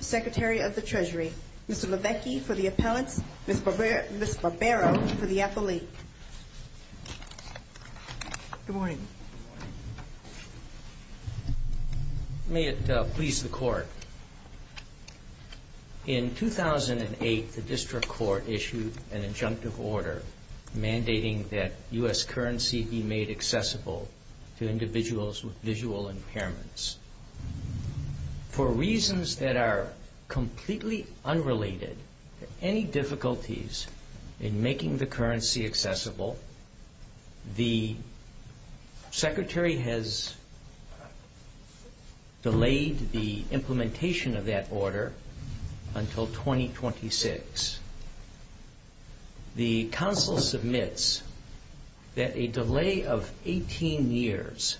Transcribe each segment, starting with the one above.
Secretary of the Treasury, Mr. Lavecchi for the appellants, Ms. Barbero for the appellate. Good morning. May it please the Court. In 2008, the District Court issued an injunctive order mandating that U.S. currency be made accessible to individuals with visual impairments. For reasons that are completely unrelated to any difficulties in making the currency accessible, the Council submits that a delay of 18 years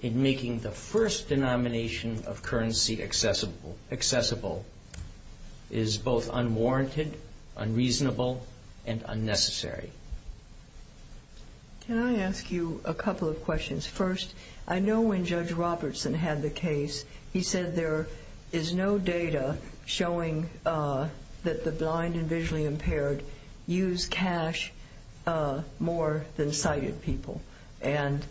in making the first denomination of currency accessible is both unwarranted, unreasonable, and unnecessary. Can I ask you a couple of questions? First, I know when Judge Robertson had the case, he said there is no data showing that the blind and visually impaired use cash more than sighted people. And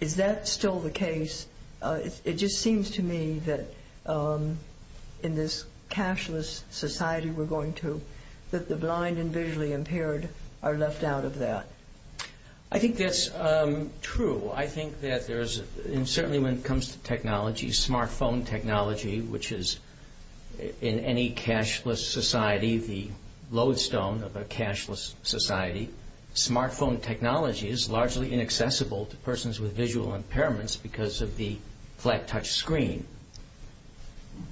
is that still the case? It just seems to me that in this cashless society we're going to, that the blind and visually impaired are left out of that. I think that's true. I think that there's, and certainly when it comes to technology, smartphone technology, which is in any cashless society the lodestone of a cashless society, smartphone technology is largely inaccessible to persons with visual impairments because of the flat touch screen.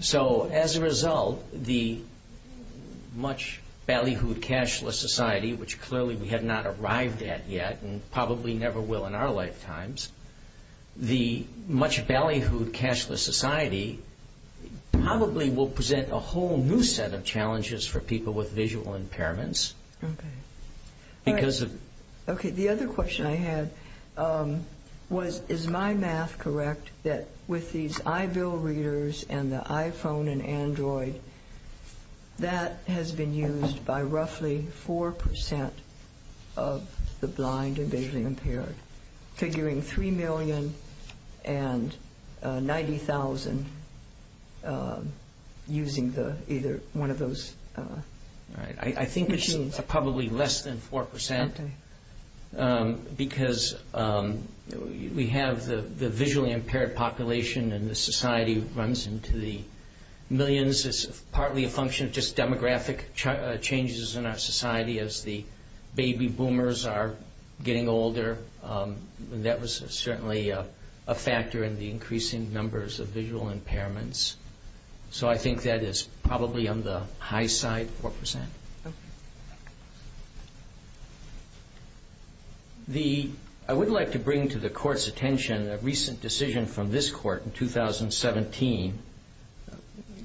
So as a result, the much ballyhooed cashless society, which clearly we have not arrived at yet, and probably never will in our lifetimes, the much ballyhooed cashless society probably will present a whole new set of challenges for people with visual impairments. Okay. Because of Okay. The other question I had was, is my math correct that with these iBill readers and the iPhone and Android, that has been used by roughly 4% of the blind and visually impaired, figuring 3,090,000 using either one of those machines. I think it's probably less than 4% because we have the visually impaired population and the society runs into the millions. It's partly a function of just demographic changes in our society as the baby boomers are getting older. That was certainly a factor in the increasing numbers of visual impairments. So I think that is probably on the high side, 4%. Okay. I would like to bring to the Court's attention a recent decision from this Court in 2017,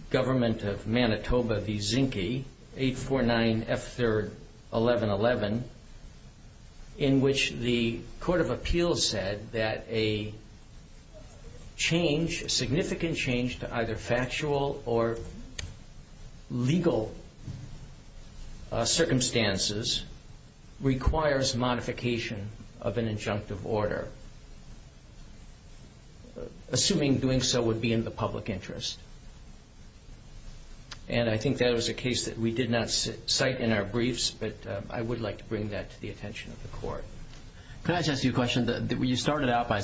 Government of Manitoba v. Zinke, 849F3R1111, in which the Court of Appeals said that a change, significant change to either factual or legal circumstances, requires modification of an injunctive order, assuming doing so would be in the public interest. And I think that was a case that we did not cite in our briefs, but I would like to bring that to the attention of the Court. Can I just ask you a question? You started out by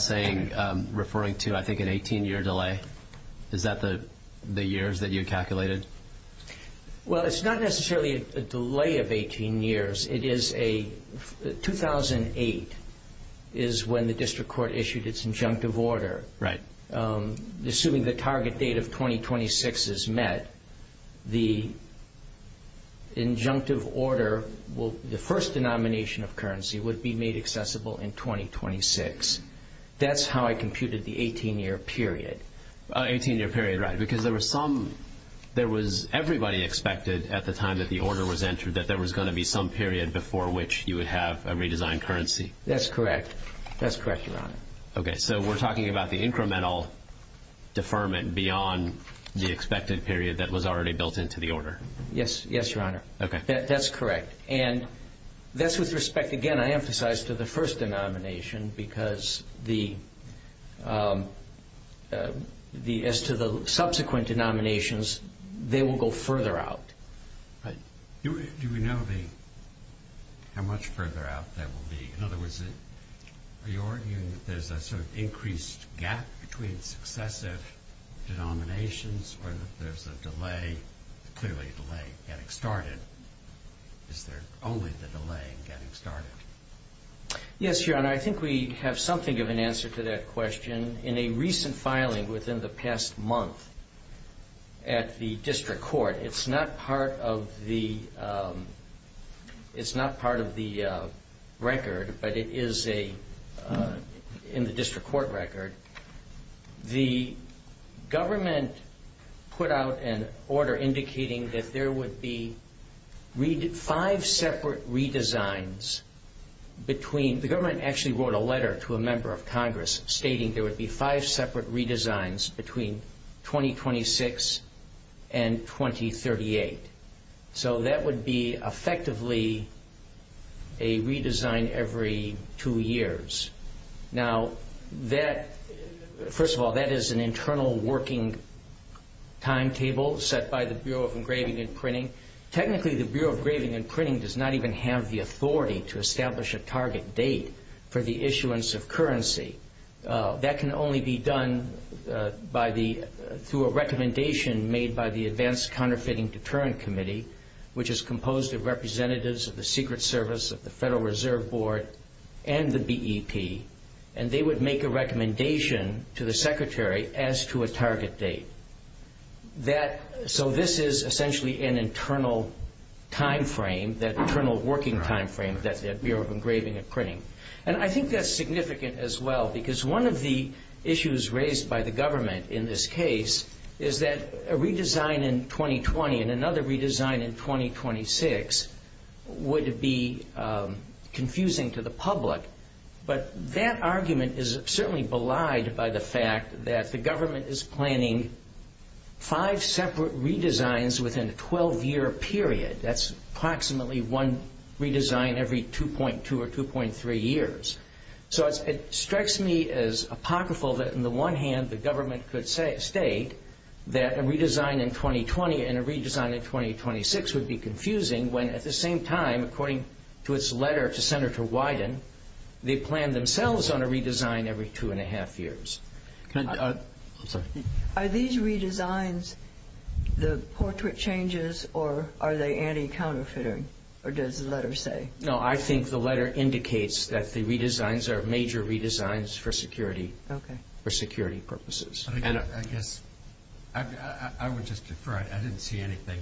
referring to, I think, an 18-year delay. Is that the years that you calculated? Well, it's not necessarily a delay of 18 years. 2008 is when the District Court issued its injunctive order. Assuming the target date of 2026 is met, the injunctive order the first denomination of currency would be made accessible in 2026. That's how I computed the 18-year period. An 18-year period, right, because there was some there was everybody expected at the time that the order was entered that there was going to be some period before which you would have a redesigned currency. That's correct. That's correct, Your Honor. Okay. So we're talking about the incremental deferment beyond the expected period that was already built into the order. Yes. Yes, Your Honor. That's correct. And that's with respect, again, I emphasize to the first denomination, because as to the subsequent denominations, they will go further out. Do we know how much further out that will be? In other words, are you arguing that there's a delay in getting started? Is there only the delay in getting started? Yes, Your Honor. I think we have something of an answer to that question. In a recent filing within the past month at the District Court, it's not part of the record, but it there would be five separate redesigns between the government actually wrote a letter to a member of Congress stating there would be five separate redesigns between 2026 and 2038. So that would be effectively a redesign every two years. Now, first of all, that is an internal working timetable set by the Bureau of Engraving and Printing. Technically, the Bureau of Engraving and Printing does not even have the authority to establish a target date for the issuance of currency. That can only be done through a recommendation made by the Advanced Counterfeiting Deterrent Committee, which is composed of representatives of the Secret Service, of the Federal Reserve Board, and the BEP. And they would make a recommendation to the Secretary as to a target date. So this is essentially an internal time frame, that internal working time frame that the Bureau of Engraving and Printing. And I think that's significant as well because one of the issues raised by the government in this case is that a redesign in 2020 and another redesign in 2026 would be confusing to the public. But that argument is certainly belied by the fact that the government is planning five separate redesigns within a 12-year period. That's approximately one redesign every 2.2 or 2.3 years. So it strikes me as apocryphal that, on the one hand, the government could state that a redesign in 2020 and a redesign in 2026 would be confusing, when at the same time, according to its letter to Senator Wyden, they plan themselves on a redesign every 2.5 years. Are these redesigns the portrait changes or are they anti-counterfeiting, or does the letter say? No, I think the letter indicates that the redesigns are major redesigns for security purposes. I guess I would just defer. I didn't see anything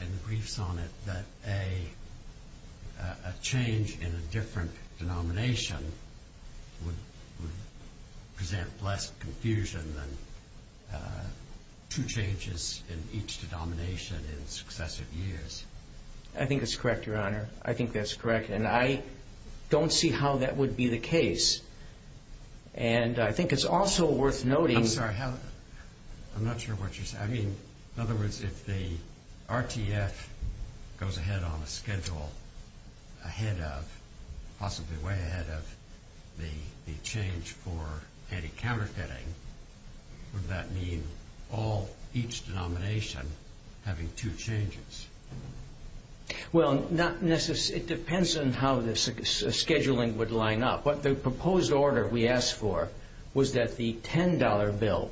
in the briefs on it that a change in a different denomination would present less confusion than two changes in each denomination in successive years. I think it's correct, Your Honor. I think that's correct. And I don't see how that would be the case. And I think it's also worth noting... I'm sorry. I'm not sure what you're saying. In other words, if the RTF goes ahead on a schedule ahead of, possibly way ahead of, the change for anti-counterfeiting, would that mean each denomination having two changes? Well, it depends on how the scheduling would line up. But the proposed order we asked for was that the $10 bill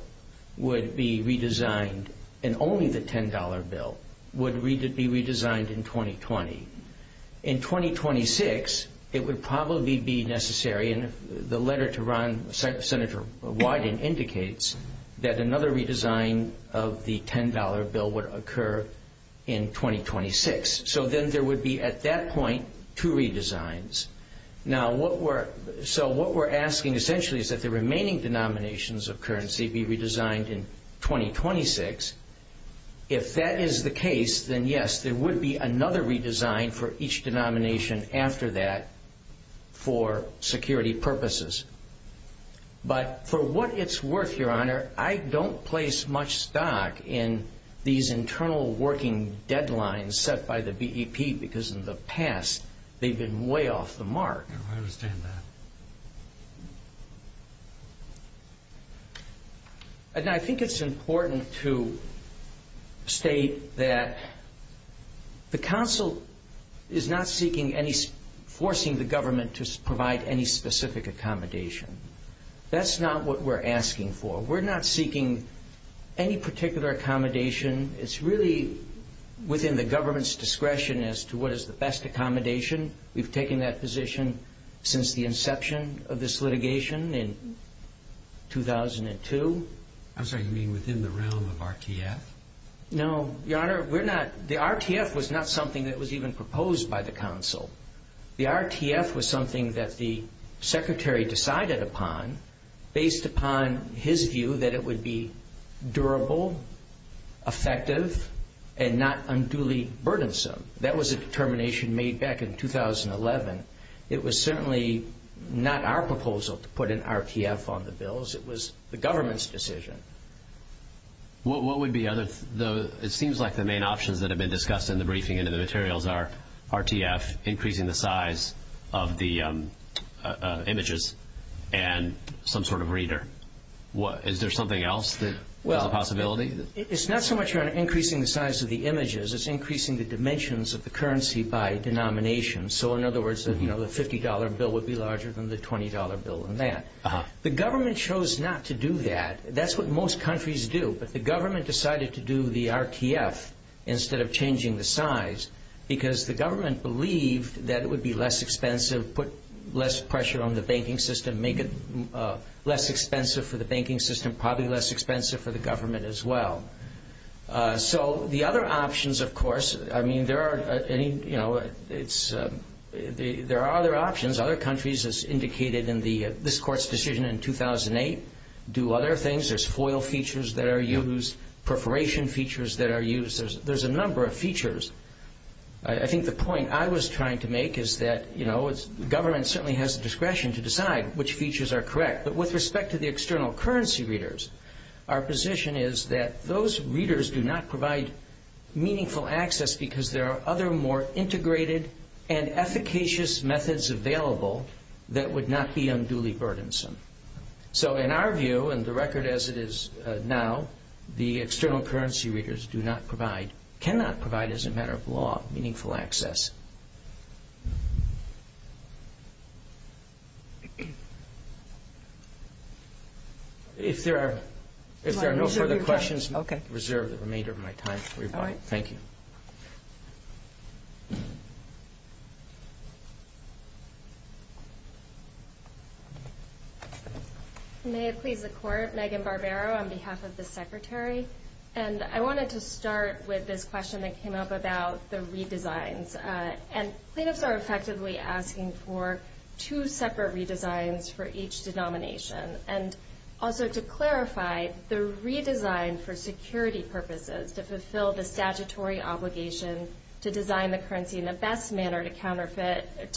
would be redesigned, and only the $10 bill would be redesigned in 2020. In 2026, it would probably be necessary, and the letter to Senator Wyden indicates that another redesign of the $10 bill would occur in 2026. So then there would be, at that point, two redesigns. So what we're asking, essentially, is that the remaining denominations of currency be redesigned in 2026. If that is the case, then yes, there would be another redesign for each I don't place much stock in these internal working deadlines set by the BEP, because in the past, they've been way off the mark. I understand that. I think it's important to state that the council is not seeking any... forcing the government to provide any specific accommodation. That's not what we're asking for. We're not seeking any particular accommodation. It's really within the government's discretion as to what is the best accommodation. We've taken that position since the inception of this litigation in 2002. I'm sorry, you mean within the realm of RTF? No, Your Honor, we're not... the RTF was not something that was even proposed by the council. The RTF was something that the Secretary decided upon based upon his view that it would be durable, effective, and not unduly burdensome. That was a determination made back in 2011. It was certainly not our proposal to put an RTF on the bills. It was the government's decision. What would be other... it seems like the main options that have been discussed in the briefing and in the materials are RTF, increasing the size of the images, and some sort of reader. Is there something else that is a possibility? It's not so much, Your Honor, increasing the size of the images. It's increasing the dimensions of the currency by denomination. In other words, the $50 bill would be larger than the $20 bill and that. The government chose not to do that. That's what most countries do. The government decided to do the RTF instead of changing the size because the government believed that it would be less expensive, put less pressure on the banking system, make it less expensive for the banking system, probably less expensive for the government as well. The other options, of course... there are other options. Other countries, as indicated in this Court's decision in 2008, do other things. There's FOIL features that are used, perforation features that are used. There's a number of features. I think the point I was trying to make is that the government certainly has the discretion to decide which features are correct. But with respect to the external currency readers, our position is that those readers do not provide meaningful access because there are other more integrated and efficacious methods available that would not be unduly burdensome. So in our view, and the record as it is now, the external currency readers do not provide, cannot provide as a matter of law, meaningful access. If there are no further questions, I reserve the remainder of my time for your question. May it please the Court. Megan Barbero on behalf of the Secretary. And I wanted to start with this question that came up about the redesigns. And plaintiffs are effectively asking for two separate redesigns for each denomination. And also to clarify, the redesign for security purposes, to fulfill the statutory obligation to design the currency in the best manner to counteract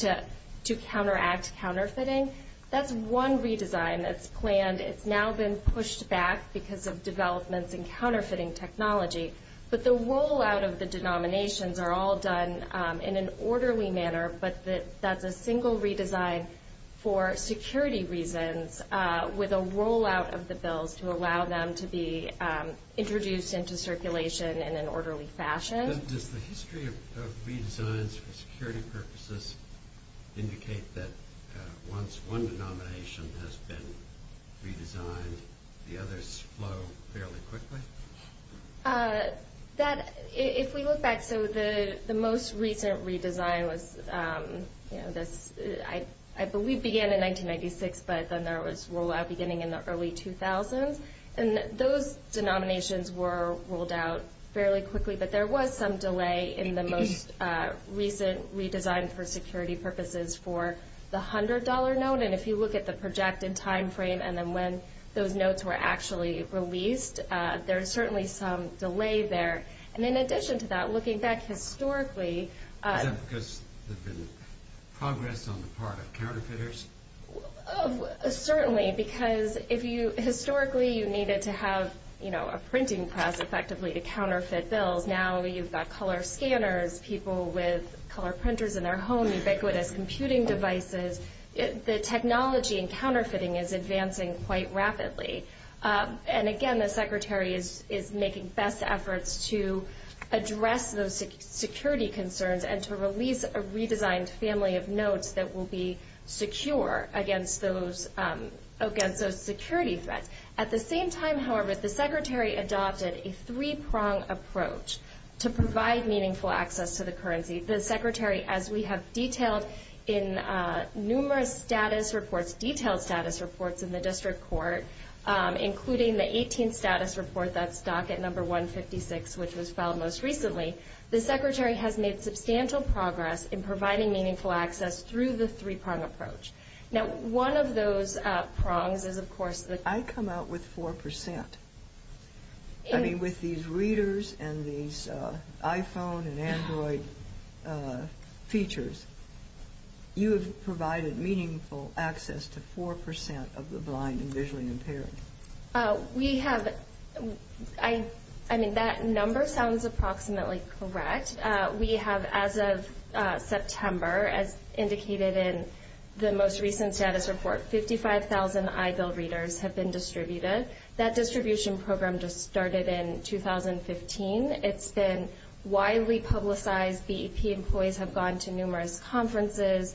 counterfeiting, that's one redesign that's planned. It's now been pushed back because of developments in counterfeiting technology. But the rollout of the denominations are all done in an orderly manner, but that's a single redesign for security reasons with a rollout of the bills to allow them to be introduced into circulation in an orderly manner. So does that, for security purposes, indicate that once one denomination has been redesigned, the others flow fairly quickly? That, if we look back, so the most recent redesign was, you know, this, I believe began in 1996, but then there was rollout beginning in the early 2000s. And those denominations were rolled out fairly quickly, but there was some delay in the most recent redesign for security purposes for the $100 note. And if you look at the projected time frame and then when those notes were actually released, there's certainly some delay there. And in addition to that, looking back historically... Is that because there's been progress on the part of counterfeiters? Certainly, because if you, historically, you needed to have, you know, a printing press effectively to counterfeit bills. Now you've got color scanners, people with color printers in their home, ubiquitous computing devices. The technology in counterfeiting is advancing quite rapidly. And again, the Secretary is making best efforts to address those security concerns and to release a redesigned family of notes that will be secure against those security threats. At the same time, however, the Secretary adopted a three-prong approach to provide meaningful access to the currency. The Secretary, as we have detailed in numerous status reports, detailed status reports in the District Court, including the 18th status report that's docket number 156, which was filed most recently, the Secretary has made substantial progress in providing meaningful access through the three-prong approach. Now one of those prongs is, of course, the... I come out with 4%. I mean, with these readers and these iPhone and Android features, you have provided meaningful access to 4% of the blind and visually impaired. We have... I mean, that number sounds approximately correct. We have, as of September, as indicated in the most recent status report, 55,000 iBuild readers have been distributed. That distribution program just started in 2015. It's been widely publicized. BEP employees have gone to numerous conferences,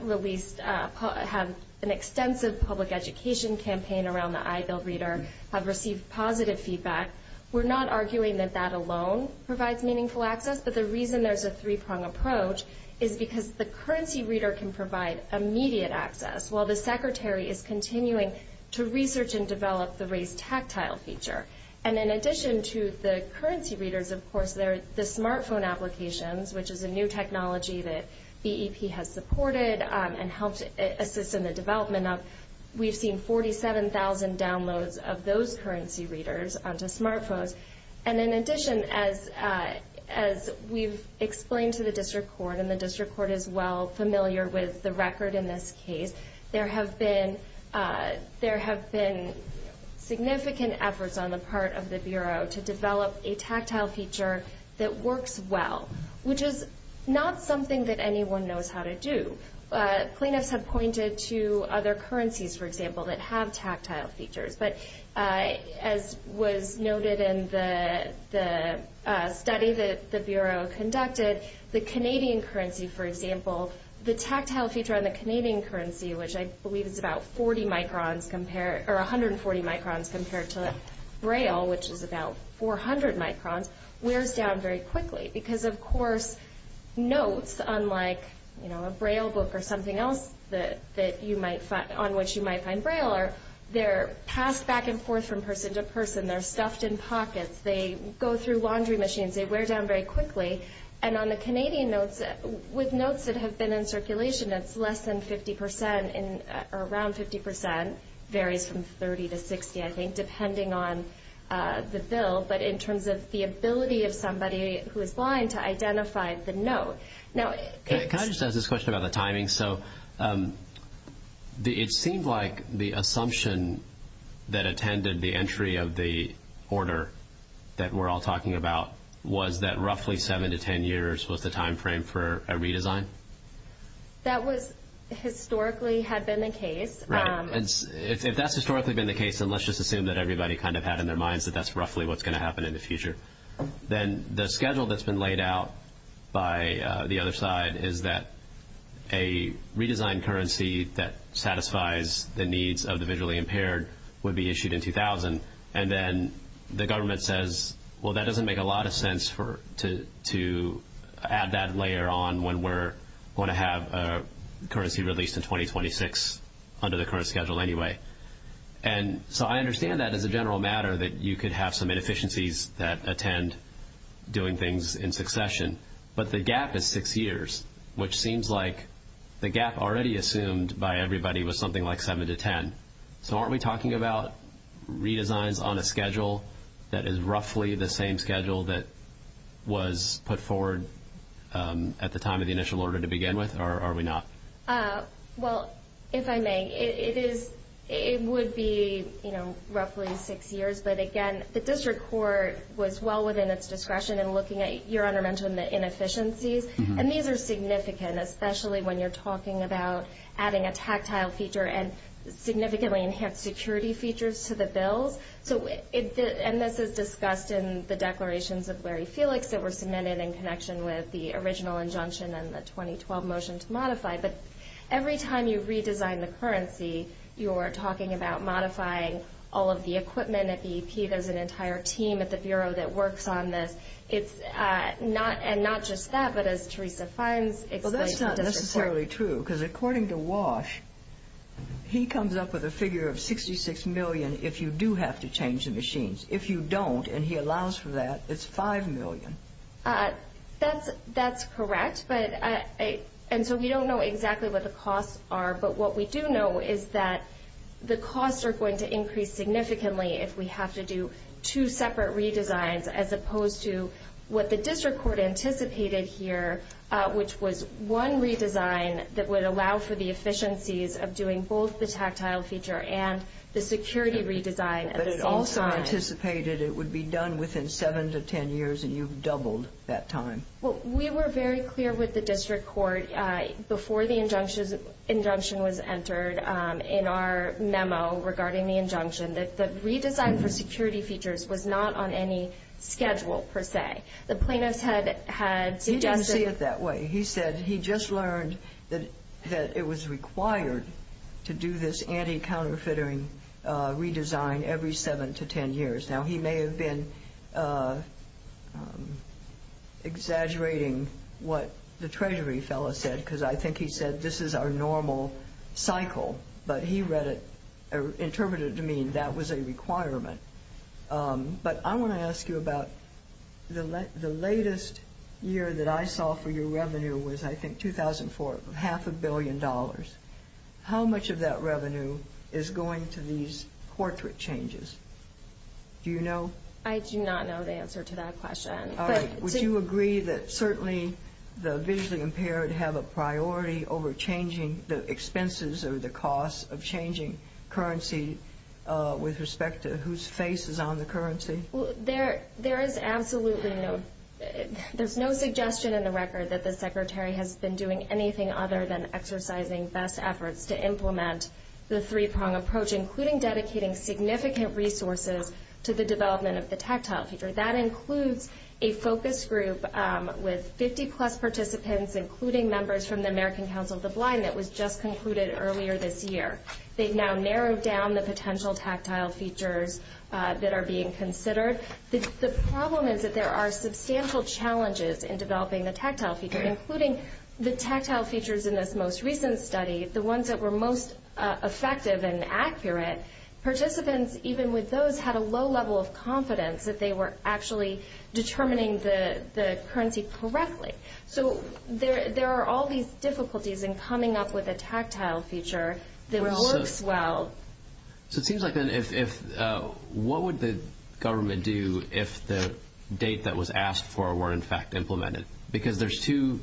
released... have an extensive public education campaign around the iBuild reader, have received positive feedback. We're not arguing that that alone provides meaningful access, but the reason there's a three-prong approach is because the currency reader can provide immediate access, while the Secretary is continuing to research and develop the Raise Tactile feature. And in addition to the currency readers, of course, there are the smartphone applications, which is a new technology that BEP has supported and helped assist in the development of. We've seen 47,000 downloads of those currency readers onto smartphones. And in addition, as we've explained to the District Court, and the District Court is well familiar with the record in this case, there have been significant efforts on the part of the Bureau to develop a tactile feature that works well, which is not something that anyone knows how to do. Plaintiffs have pointed to other currencies, for example, that have tactile features. But as was noted in the study that the Bureau conducted, the tactile feature on the Canadian currency, which I believe is about 140 microns compared to Braille, which is about 400 microns, wears down very quickly. Because, of course, notes, unlike a Braille book or something else on which you might find Braille, they're passed back and forth from person to person, they're stuffed in pockets, they go through laundry machines, they wear down very quickly. And on the Canadian notes, with notes that have been in circulation, it's less than 50 percent, or around 50 percent, varies from 30 to 60, I think, depending on the bill. But in terms of the ability of somebody who is blind to identify the note. Now, can I just ask this question about the timing? So it seemed like the assumption that we're all talking about was that roughly 7 to 10 years was the time frame for a redesign? That was, historically, had been the case. Right. If that's historically been the case, then let's just assume that everybody kind of had in their minds that that's roughly what's going to happen in the future. Then the schedule that's been laid out by the other side is that a redesigned currency that satisfies the needs of the visually impaired would be issued in 2000. And then the government says, well, that doesn't make a lot of sense to add that layer on when we're going to have a currency released in 2026, under the current schedule anyway. And so I understand that as a general matter, that you could have some inefficiencies that attend doing things in succession. But the gap is six years, which seems like the gap already assumed by everybody was something like 7 to 10. So aren't we talking about redesigns on a schedule that is roughly the same schedule that was put forward at the time of the initial order to begin with, or are we not? Well, if I may, it would be roughly six years. But again, the district court was well within its discretion in looking at your undermentioned inefficiencies. And these are significant, especially when you're talking about adding a tactile feature and significantly enhanced security features to the bills. And this is discussed in the declarations of Larry Felix that were submitted in connection with the original injunction and the 2012 motion to modify. But every time you redesign the currency, you're talking about modifying all of the equipment at the EP. There's an entire team at the Bureau that works on this. And not just that, but as Theresa Fines explained to the district court. Well, that's not necessarily true, because according to Walsh, he comes up with a figure of 66 million if you do have to change the machines. If you don't, and he allows for that, it's 5 million. That's correct. And so we don't know exactly what the costs are. But what we do know is that the costs are going to increase significantly if we have to do two separate redesigns, as indicated here, which was one redesign that would allow for the efficiencies of doing both the tactile feature and the security redesign at the same time. But it also anticipated it would be done within 7 to 10 years, and you've doubled that time. Well, we were very clear with the district court before the injunction was entered in our memo regarding the injunction that the redesign for security features was not on any schedule, per se. The plaintiffs had suggested... You don't see it that way. He said he just learned that it was required to do this anti-counterfeitering redesign every 7 to 10 years. Now, he may have been exaggerating what the Treasury fellow said, because I think he said this is our normal cycle. But he read it, or interpreted it to mean that was a requirement. But I want to ask you about the latest year that I saw for your revenue was, I think, 2004, half a billion dollars. How much of that revenue is going to these portrait changes? Do you know? I do not know the answer to that question. All right. Would you agree that certainly the visually impaired have a priority over changing the expenses or the costs of changing currency with respect to whose face is on the currency? There is absolutely no... There's no suggestion in the record that the Secretary has been doing anything other than exercising best efforts to implement the three-prong approach, including dedicating significant resources to the development of the tactile feature. That includes a focus group with 50-plus participants, including members from the American Council of the Blind, that was just concluded earlier this year. They've now narrowed down the potential tactile features that are being considered. The problem is that there are substantial challenges in developing the tactile feature, including the tactile features in this most recent study, the ones that were most effective and accurate. Participants, even with those, had a low level of confidence that they were actually determining the currency correctly. So there are all these difficulties in coming up with a tactile feature that works well. What would the government do if the date that was asked for were, in fact, implemented? Because there's two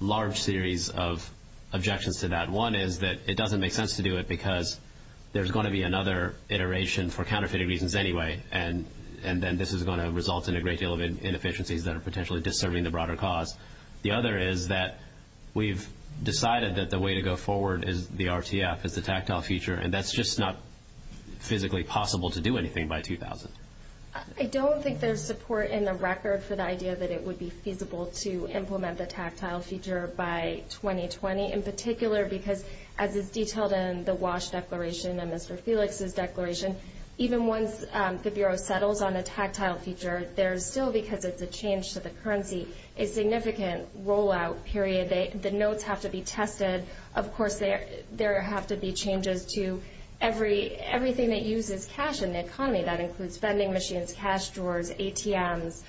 large series of objections to that. One is that it doesn't make sense to do it because there's going to be another iteration for counterfeited reasons anyway, and then this is going to result in a great deal of inefficiencies that are potentially disturbing the broader cause. The other is that we've decided that the way to go forward is the RTF, is the tactile feature, and that's just not physically possible to do anything by 2000. I don't think there's support in the record for the idea that it would be feasible to implement the tactile feature by 2020, in particular because, as is detailed in the WASH declaration and Mr. Felix's declaration, even once the Bureau settles on a tactile feature, there's still, because it's a change to the currency, a significant rollout period. The notes have to be tested. Of course, there have to be changes to everything that uses cash in the economy. That includes vending machines, cash drawers, ATMs,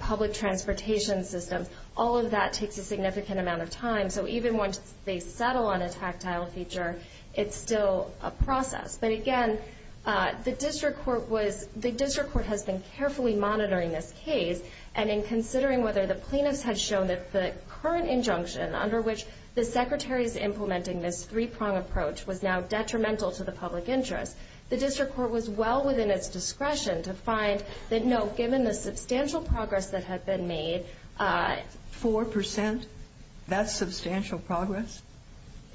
public transportation systems. All of that takes a significant amount of time. So even once they settle on a tactile feature, it's still a process. But again, the District Court has been carefully monitoring this case, and in considering whether the plaintiffs had shown that the current injunction under which the Secretary is implementing this three-prong approach was now detrimental to the public interest, the District Court was well within its discretion to find that no, given the substantial progress that had been made... Four percent? That's substantial progress?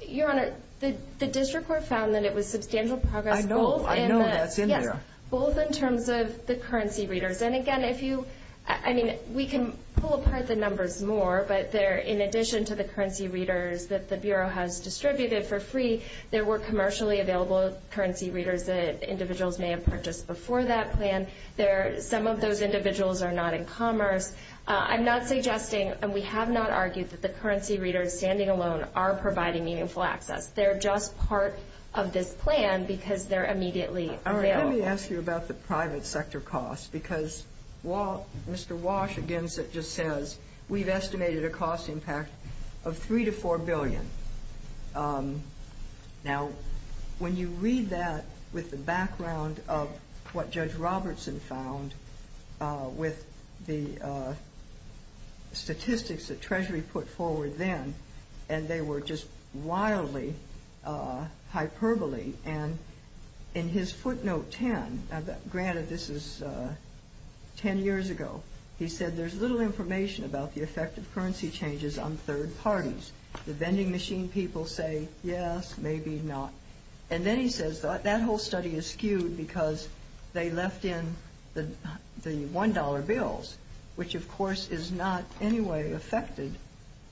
Your Honor, the District Court found that it was substantial progress both in the... I know, I know, that's in there. Yes, both in terms of the currency readers. And again, if you, I mean, we can pull apart the numbers more, but there, in addition to the currency readers that the Bureau has distributed for free, there were commercially available currency readers that individuals may have purchased before that plan. There, some of those individuals are not in commerce. I'm not suggesting, and we have not argued, that the currency readers standing alone are providing meaningful access. They're just part of this plan because they're immediately available. All right, let me ask you about the private sector costs, because Mr. Walsh, again, just says, we've estimated a cost impact of $3 to $4 billion. Now, when you read that with the background of what Judge Robertson found with the statistics that Treasury put forward then, and they were just wildly hyperbole, and in his footnote 10, granted this is 10 years ago, he said, there's little information about the effect of currency changes on third parties. The vending machine people say, yes, maybe not. And then he says, that whole study is skewed because they left in the $1 bills, which, of course, is not in any way affected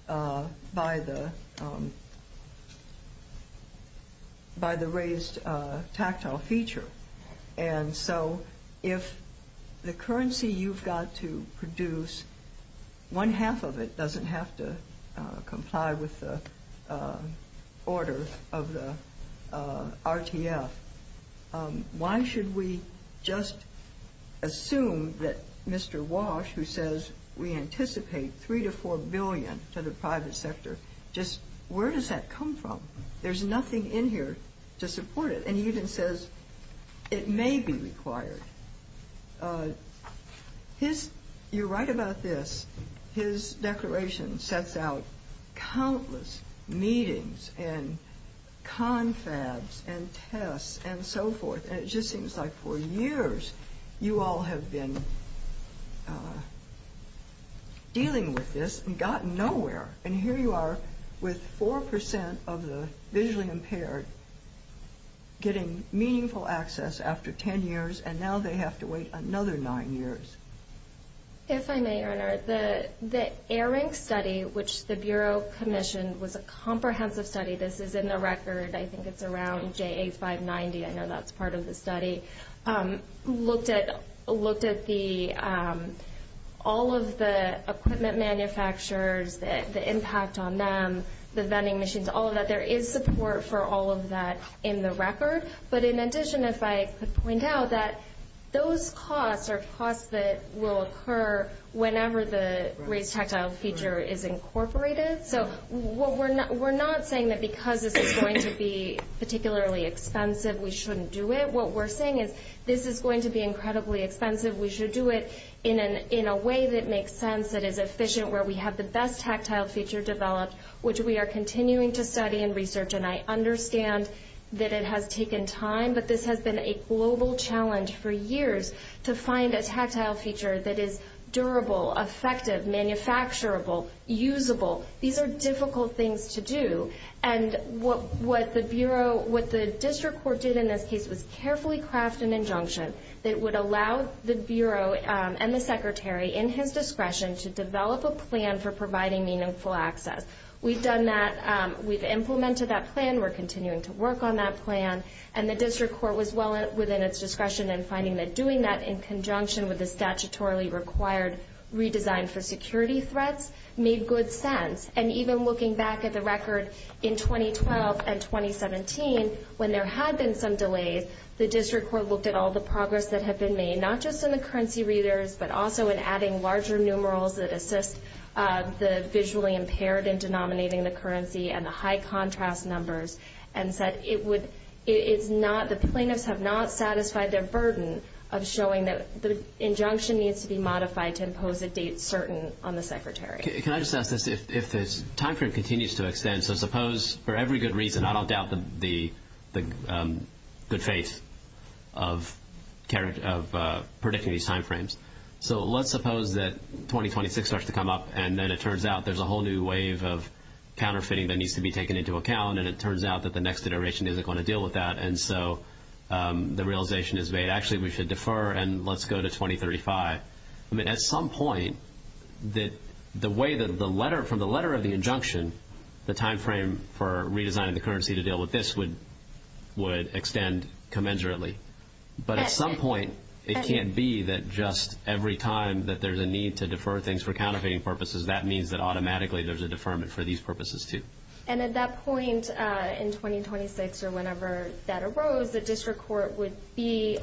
by the raised tactile feature. And so, if the currency you've got to produce, one half of it doesn't have to comply with the order of the RTF, why should we just assume that Mr. Walsh, who says, we anticipate $3 to $4 billion to the private sector, just where does that come from? There's nothing in here to support it. And he even says, it may be declaration sets out countless meetings and confabs and tests and so forth. And it just seems like for years, you all have been dealing with this and gotten nowhere. And here you are with 4% of the visually impaired getting meaningful access after 10 years, and now they have to wait another nine years. If I may, Your Honor, the AIRINC study, which the Bureau commissioned, was a comprehensive study. This is in the record. I think it's around JA 590. I know that's part of the study. Looked at all of the equipment manufacturers, the impact on them, the vending machines, all of that. There is support for all of that in the record. But in addition, if I could point out that those costs are costs that will occur whenever the raised tactile feature is incorporated. So we're not saying that because this is going to be particularly expensive, we shouldn't do it. What we're saying is, this is going to be incredibly expensive. We should do it in a way that makes sense, that is efficient, where we have the best tactile feature developed, which we are continuing to study and research. And I understand that it has taken time, but this has been a global challenge for years to find a tactile feature that is durable, effective, manufacturable, usable. These are difficult things to do. And what the Bureau, what the District Court did in this case was carefully craft an injunction that would allow the Bureau and the Secretary, in his discretion, to develop a plan for providing meaningful access. We've done that. We've implemented that plan. We're continuing to implement that plan. And the District Court was well within its discretion in finding that doing that in conjunction with the statutorily required redesign for security threats made good sense. And even looking back at the record in 2012 and 2017, when there had been some delays, the District Court looked at all the progress that had been made, not just in the currency readers, but also in adding larger numerals that assist the visually impaired in denominating the currency and the high contrast numbers and said it would, it's not, the plaintiffs have not satisfied their burden of showing that the injunction needs to be modified to impose a date certain on the Secretary. Can I just ask this? If this timeframe continues to extend, so suppose for every good reason, I don't doubt the good faith of predicting these timeframes. So let's suppose that 2026 starts to come up, and then it turns out there's a whole new wave of counterfeiting that needs to be taken into account, and it turns out that the next iteration isn't going to deal with that. And so the realization is made, actually, we should defer, and let's go to 2035. I mean, at some point, the way that the letter, from the letter of the injunction, the timeframe for redesigning the currency to deal with this would extend commensurately. But at some point, it can't be that just every time that there's a need to defer things for counterfeiting purposes, that means that automatically there's a deferment for these purposes, too. And at that point in 2026, or whenever that arose, the district court would be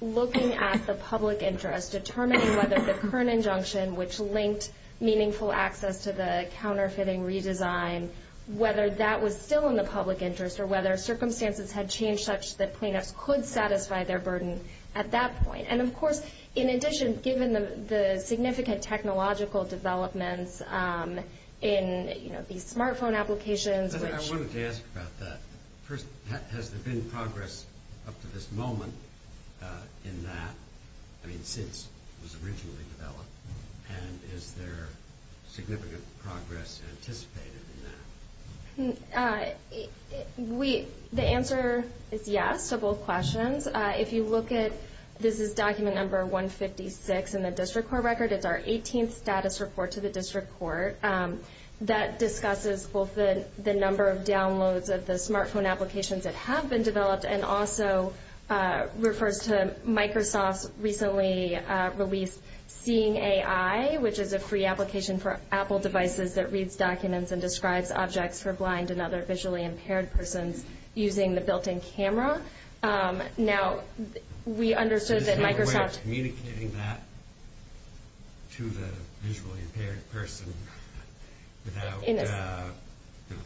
looking at the public interest, determining whether the current injunction, which linked meaningful access to the counterfeiting redesign, whether that was still in the public interest, or whether circumstances had changed such that plaintiffs could satisfy their burden at that point. And, of course, in addition, given the significant technological developments in, you know, these smartphone applications, which... I wanted to ask about that. First, has there been progress up to this moment in that, I mean, since it was originally developed, and is there significant progress anticipated in that? The answer is yes to both questions. If you look at...this is document number 156 in the district court record. It's our 18th status report to the district court. That discusses both the number of downloads of the smartphone applications that have been developed, and also refers to Microsoft's recently released Seeing AI, which is a free application for Apple devices that reads documents and describes objects for blind and other visually impaired persons using the built-in camera. Now, we understood that Microsoft... Is there a way of communicating that to the visually impaired person without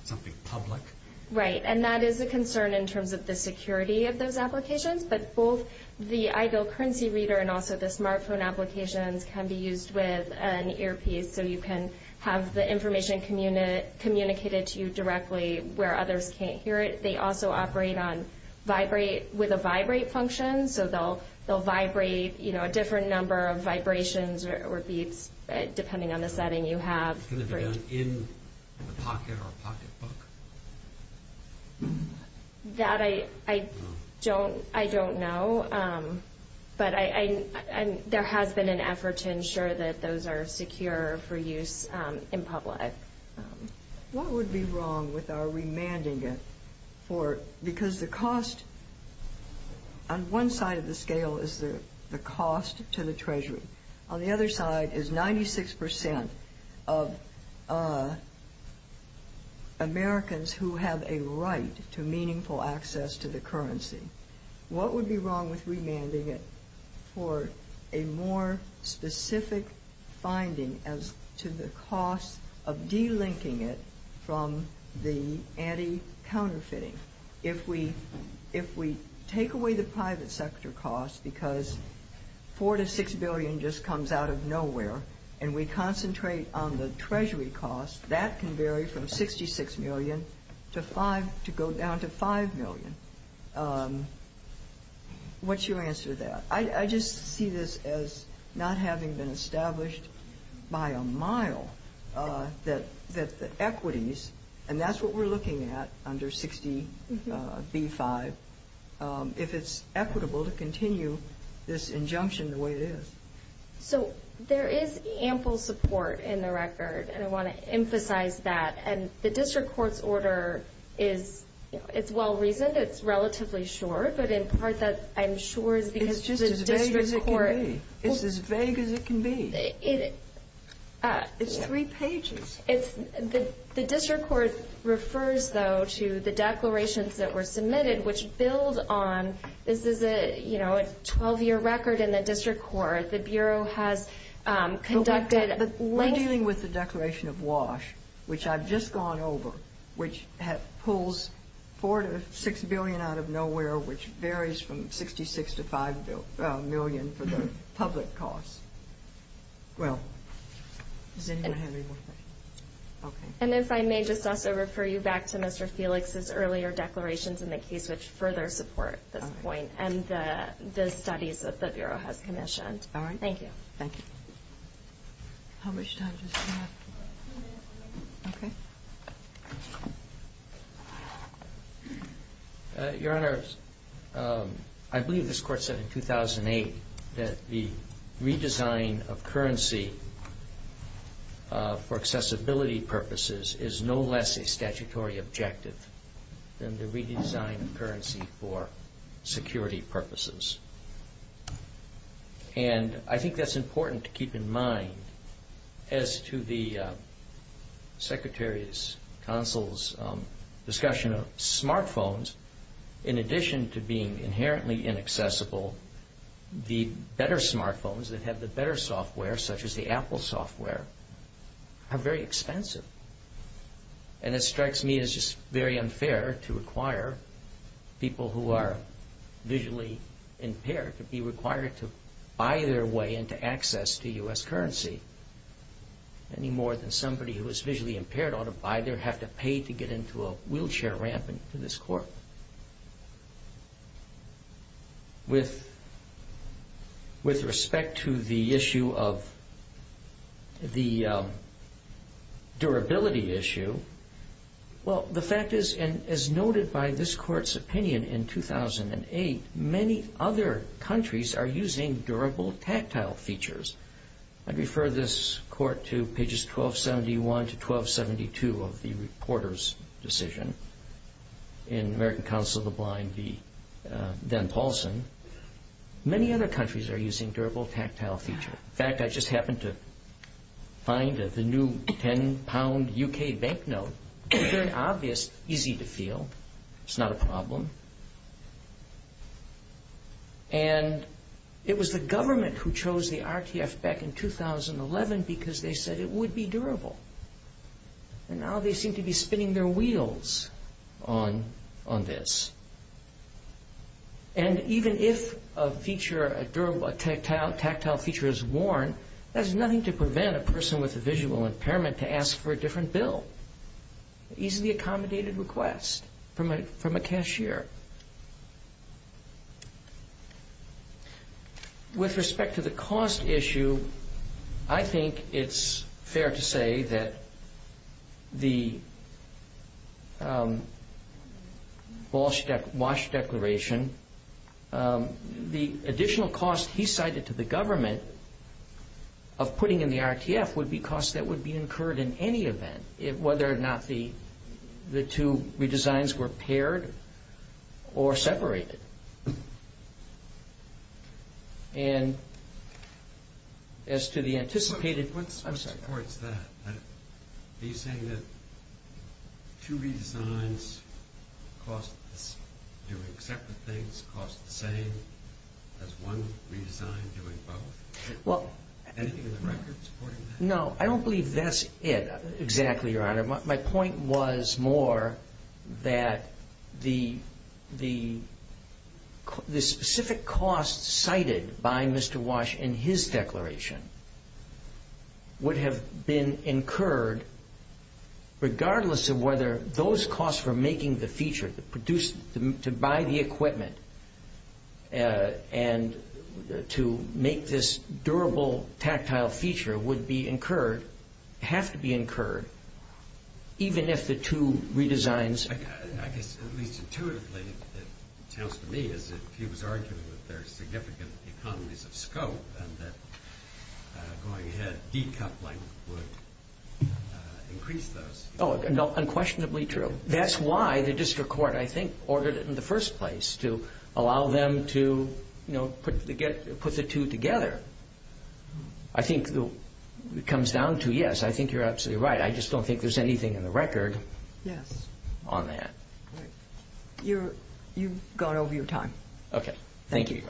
something public? Right, and that is a concern in terms of the security of those applications, but both the iGo currency reader and also the smartphone applications can be used with an earpiece, so you can have the information communicated to you directly where others can't hear it. They also operate on vibrate...with a vibrate function, so they'll vibrate, you know, a different number of vibrations or beeps, depending on the setting you have. Can it be done in a pocket or a pocketbook? That I...I don't...I don't know, but I...there has been an effort to ensure that those are secure for use in public. What would be wrong with our remanding it for...because the cost on one side of the scale is the cost to the Treasury. On the other side is 96% of Americans who have a right to meaningful access to the currency. What would be wrong with remanding it for a more specific finding as to the cost of delinking it from the anti-counterfeiting? If we...if we take away the private sector costs, because 4 to 6 billion just comes out of nowhere, and we concentrate on the Treasury costs, that can vary from 66 million to 5... to go down to 5 million. What's your answer to that? I...I just see this as not having been established by a mile that...that the equities, and that's what we're looking at under 60B5, if it's equitable to continue this injunction the way it is. So, there is ample support in the record, and I want to emphasize that, and the district court's order is...it's well-reasoned, it's relatively short, but in part that I'm sure is because the district court... It's just as vague as it can be. It's as vague as it can be. It... It's three pages. It's...the district court refers, though, to the declarations that were submitted, which build on...this is a, you know, a 12-year record in the district court. The Bureau has conducted... But we're dealing with the declaration of WASH, which I've just gone over, which pulls 4 to 6 billion out of nowhere, which varies from 66 to 5 million for the public costs. Well, does anyone have any more questions? Okay. And if I may just also refer you back to Mr. Felix's earlier declarations in the case which further support this point, and the studies that the Bureau has commissioned. All right. Thank you. Thank you. How much time does he have? Okay. Your Honor, I believe this court said in 2008 that the redesign of currency for accessibility purposes is no less a statutory objective than the redesign of currency for security purposes. And I think that's important to keep in mind as to the Secretary's, Consul's discussion of smartphones. In addition to being inherently inaccessible, the better smartphones that have the better software, such as the Apple software, are very expensive. And it strikes me as just very unfair to require people who are visually impaired to be required to buy their way into access to U.S. currency, any more than somebody who is visually impaired ought to buy their have to pay to get into a wheelchair ramp into this court. Now, with respect to the issue of the durability issue, well, the fact is, and as noted by this Court's opinion in 2008, many other countries are using durable tactile features. I'd refer this Court to pages 1271 to 1272 of the reporter's decision in American Counsel of the Blind v. Dan Paulson. Many other countries are using durable tactile feature. In fact, I just happened to find that the new 10-pound U.K. banknote is very obvious, It's not a problem. And it was the government who chose the RTF back in 2011 because they said it would be durable. And now they seem to be spinning their wheels on this. And even if a tactile feature is worn, that's nothing to prevent a person with a visual impairment to ask for a different bill. Easily accommodated request from a cashier. With respect to the cost issue, I think it's fair to say that the Walsh Declaration, the additional cost he cited to the government of putting in the RTF would be cost that would be incurred in any event, whether or not the two redesigns were paired or separated. And as to the anticipated... What supports that? Are you saying that two redesigns cost doing separate things cost the same as one redesign doing both? Anything in the record supporting that? No, I don't believe that's it exactly, Your Honor. My point was more that the specific cost cited by Mr. Walsh in his declaration would have been incurred regardless of whether those costs for making the feature, to buy the equipment, and to make this durable tactile feature would be incurred, have to be incurred, even if the two redesigns... I guess at least intuitively it sounds to me as if he was arguing that there are significant economies of scope and that going ahead decoupling would increase those. Oh, unquestionably true. That's why the district court, I think, ordered it in the first place, to allow them to put the two together. I think it comes down to, yes, I think you're absolutely right. I just don't think there's anything in the record on that. You've gone over your time. Okay. Thank you.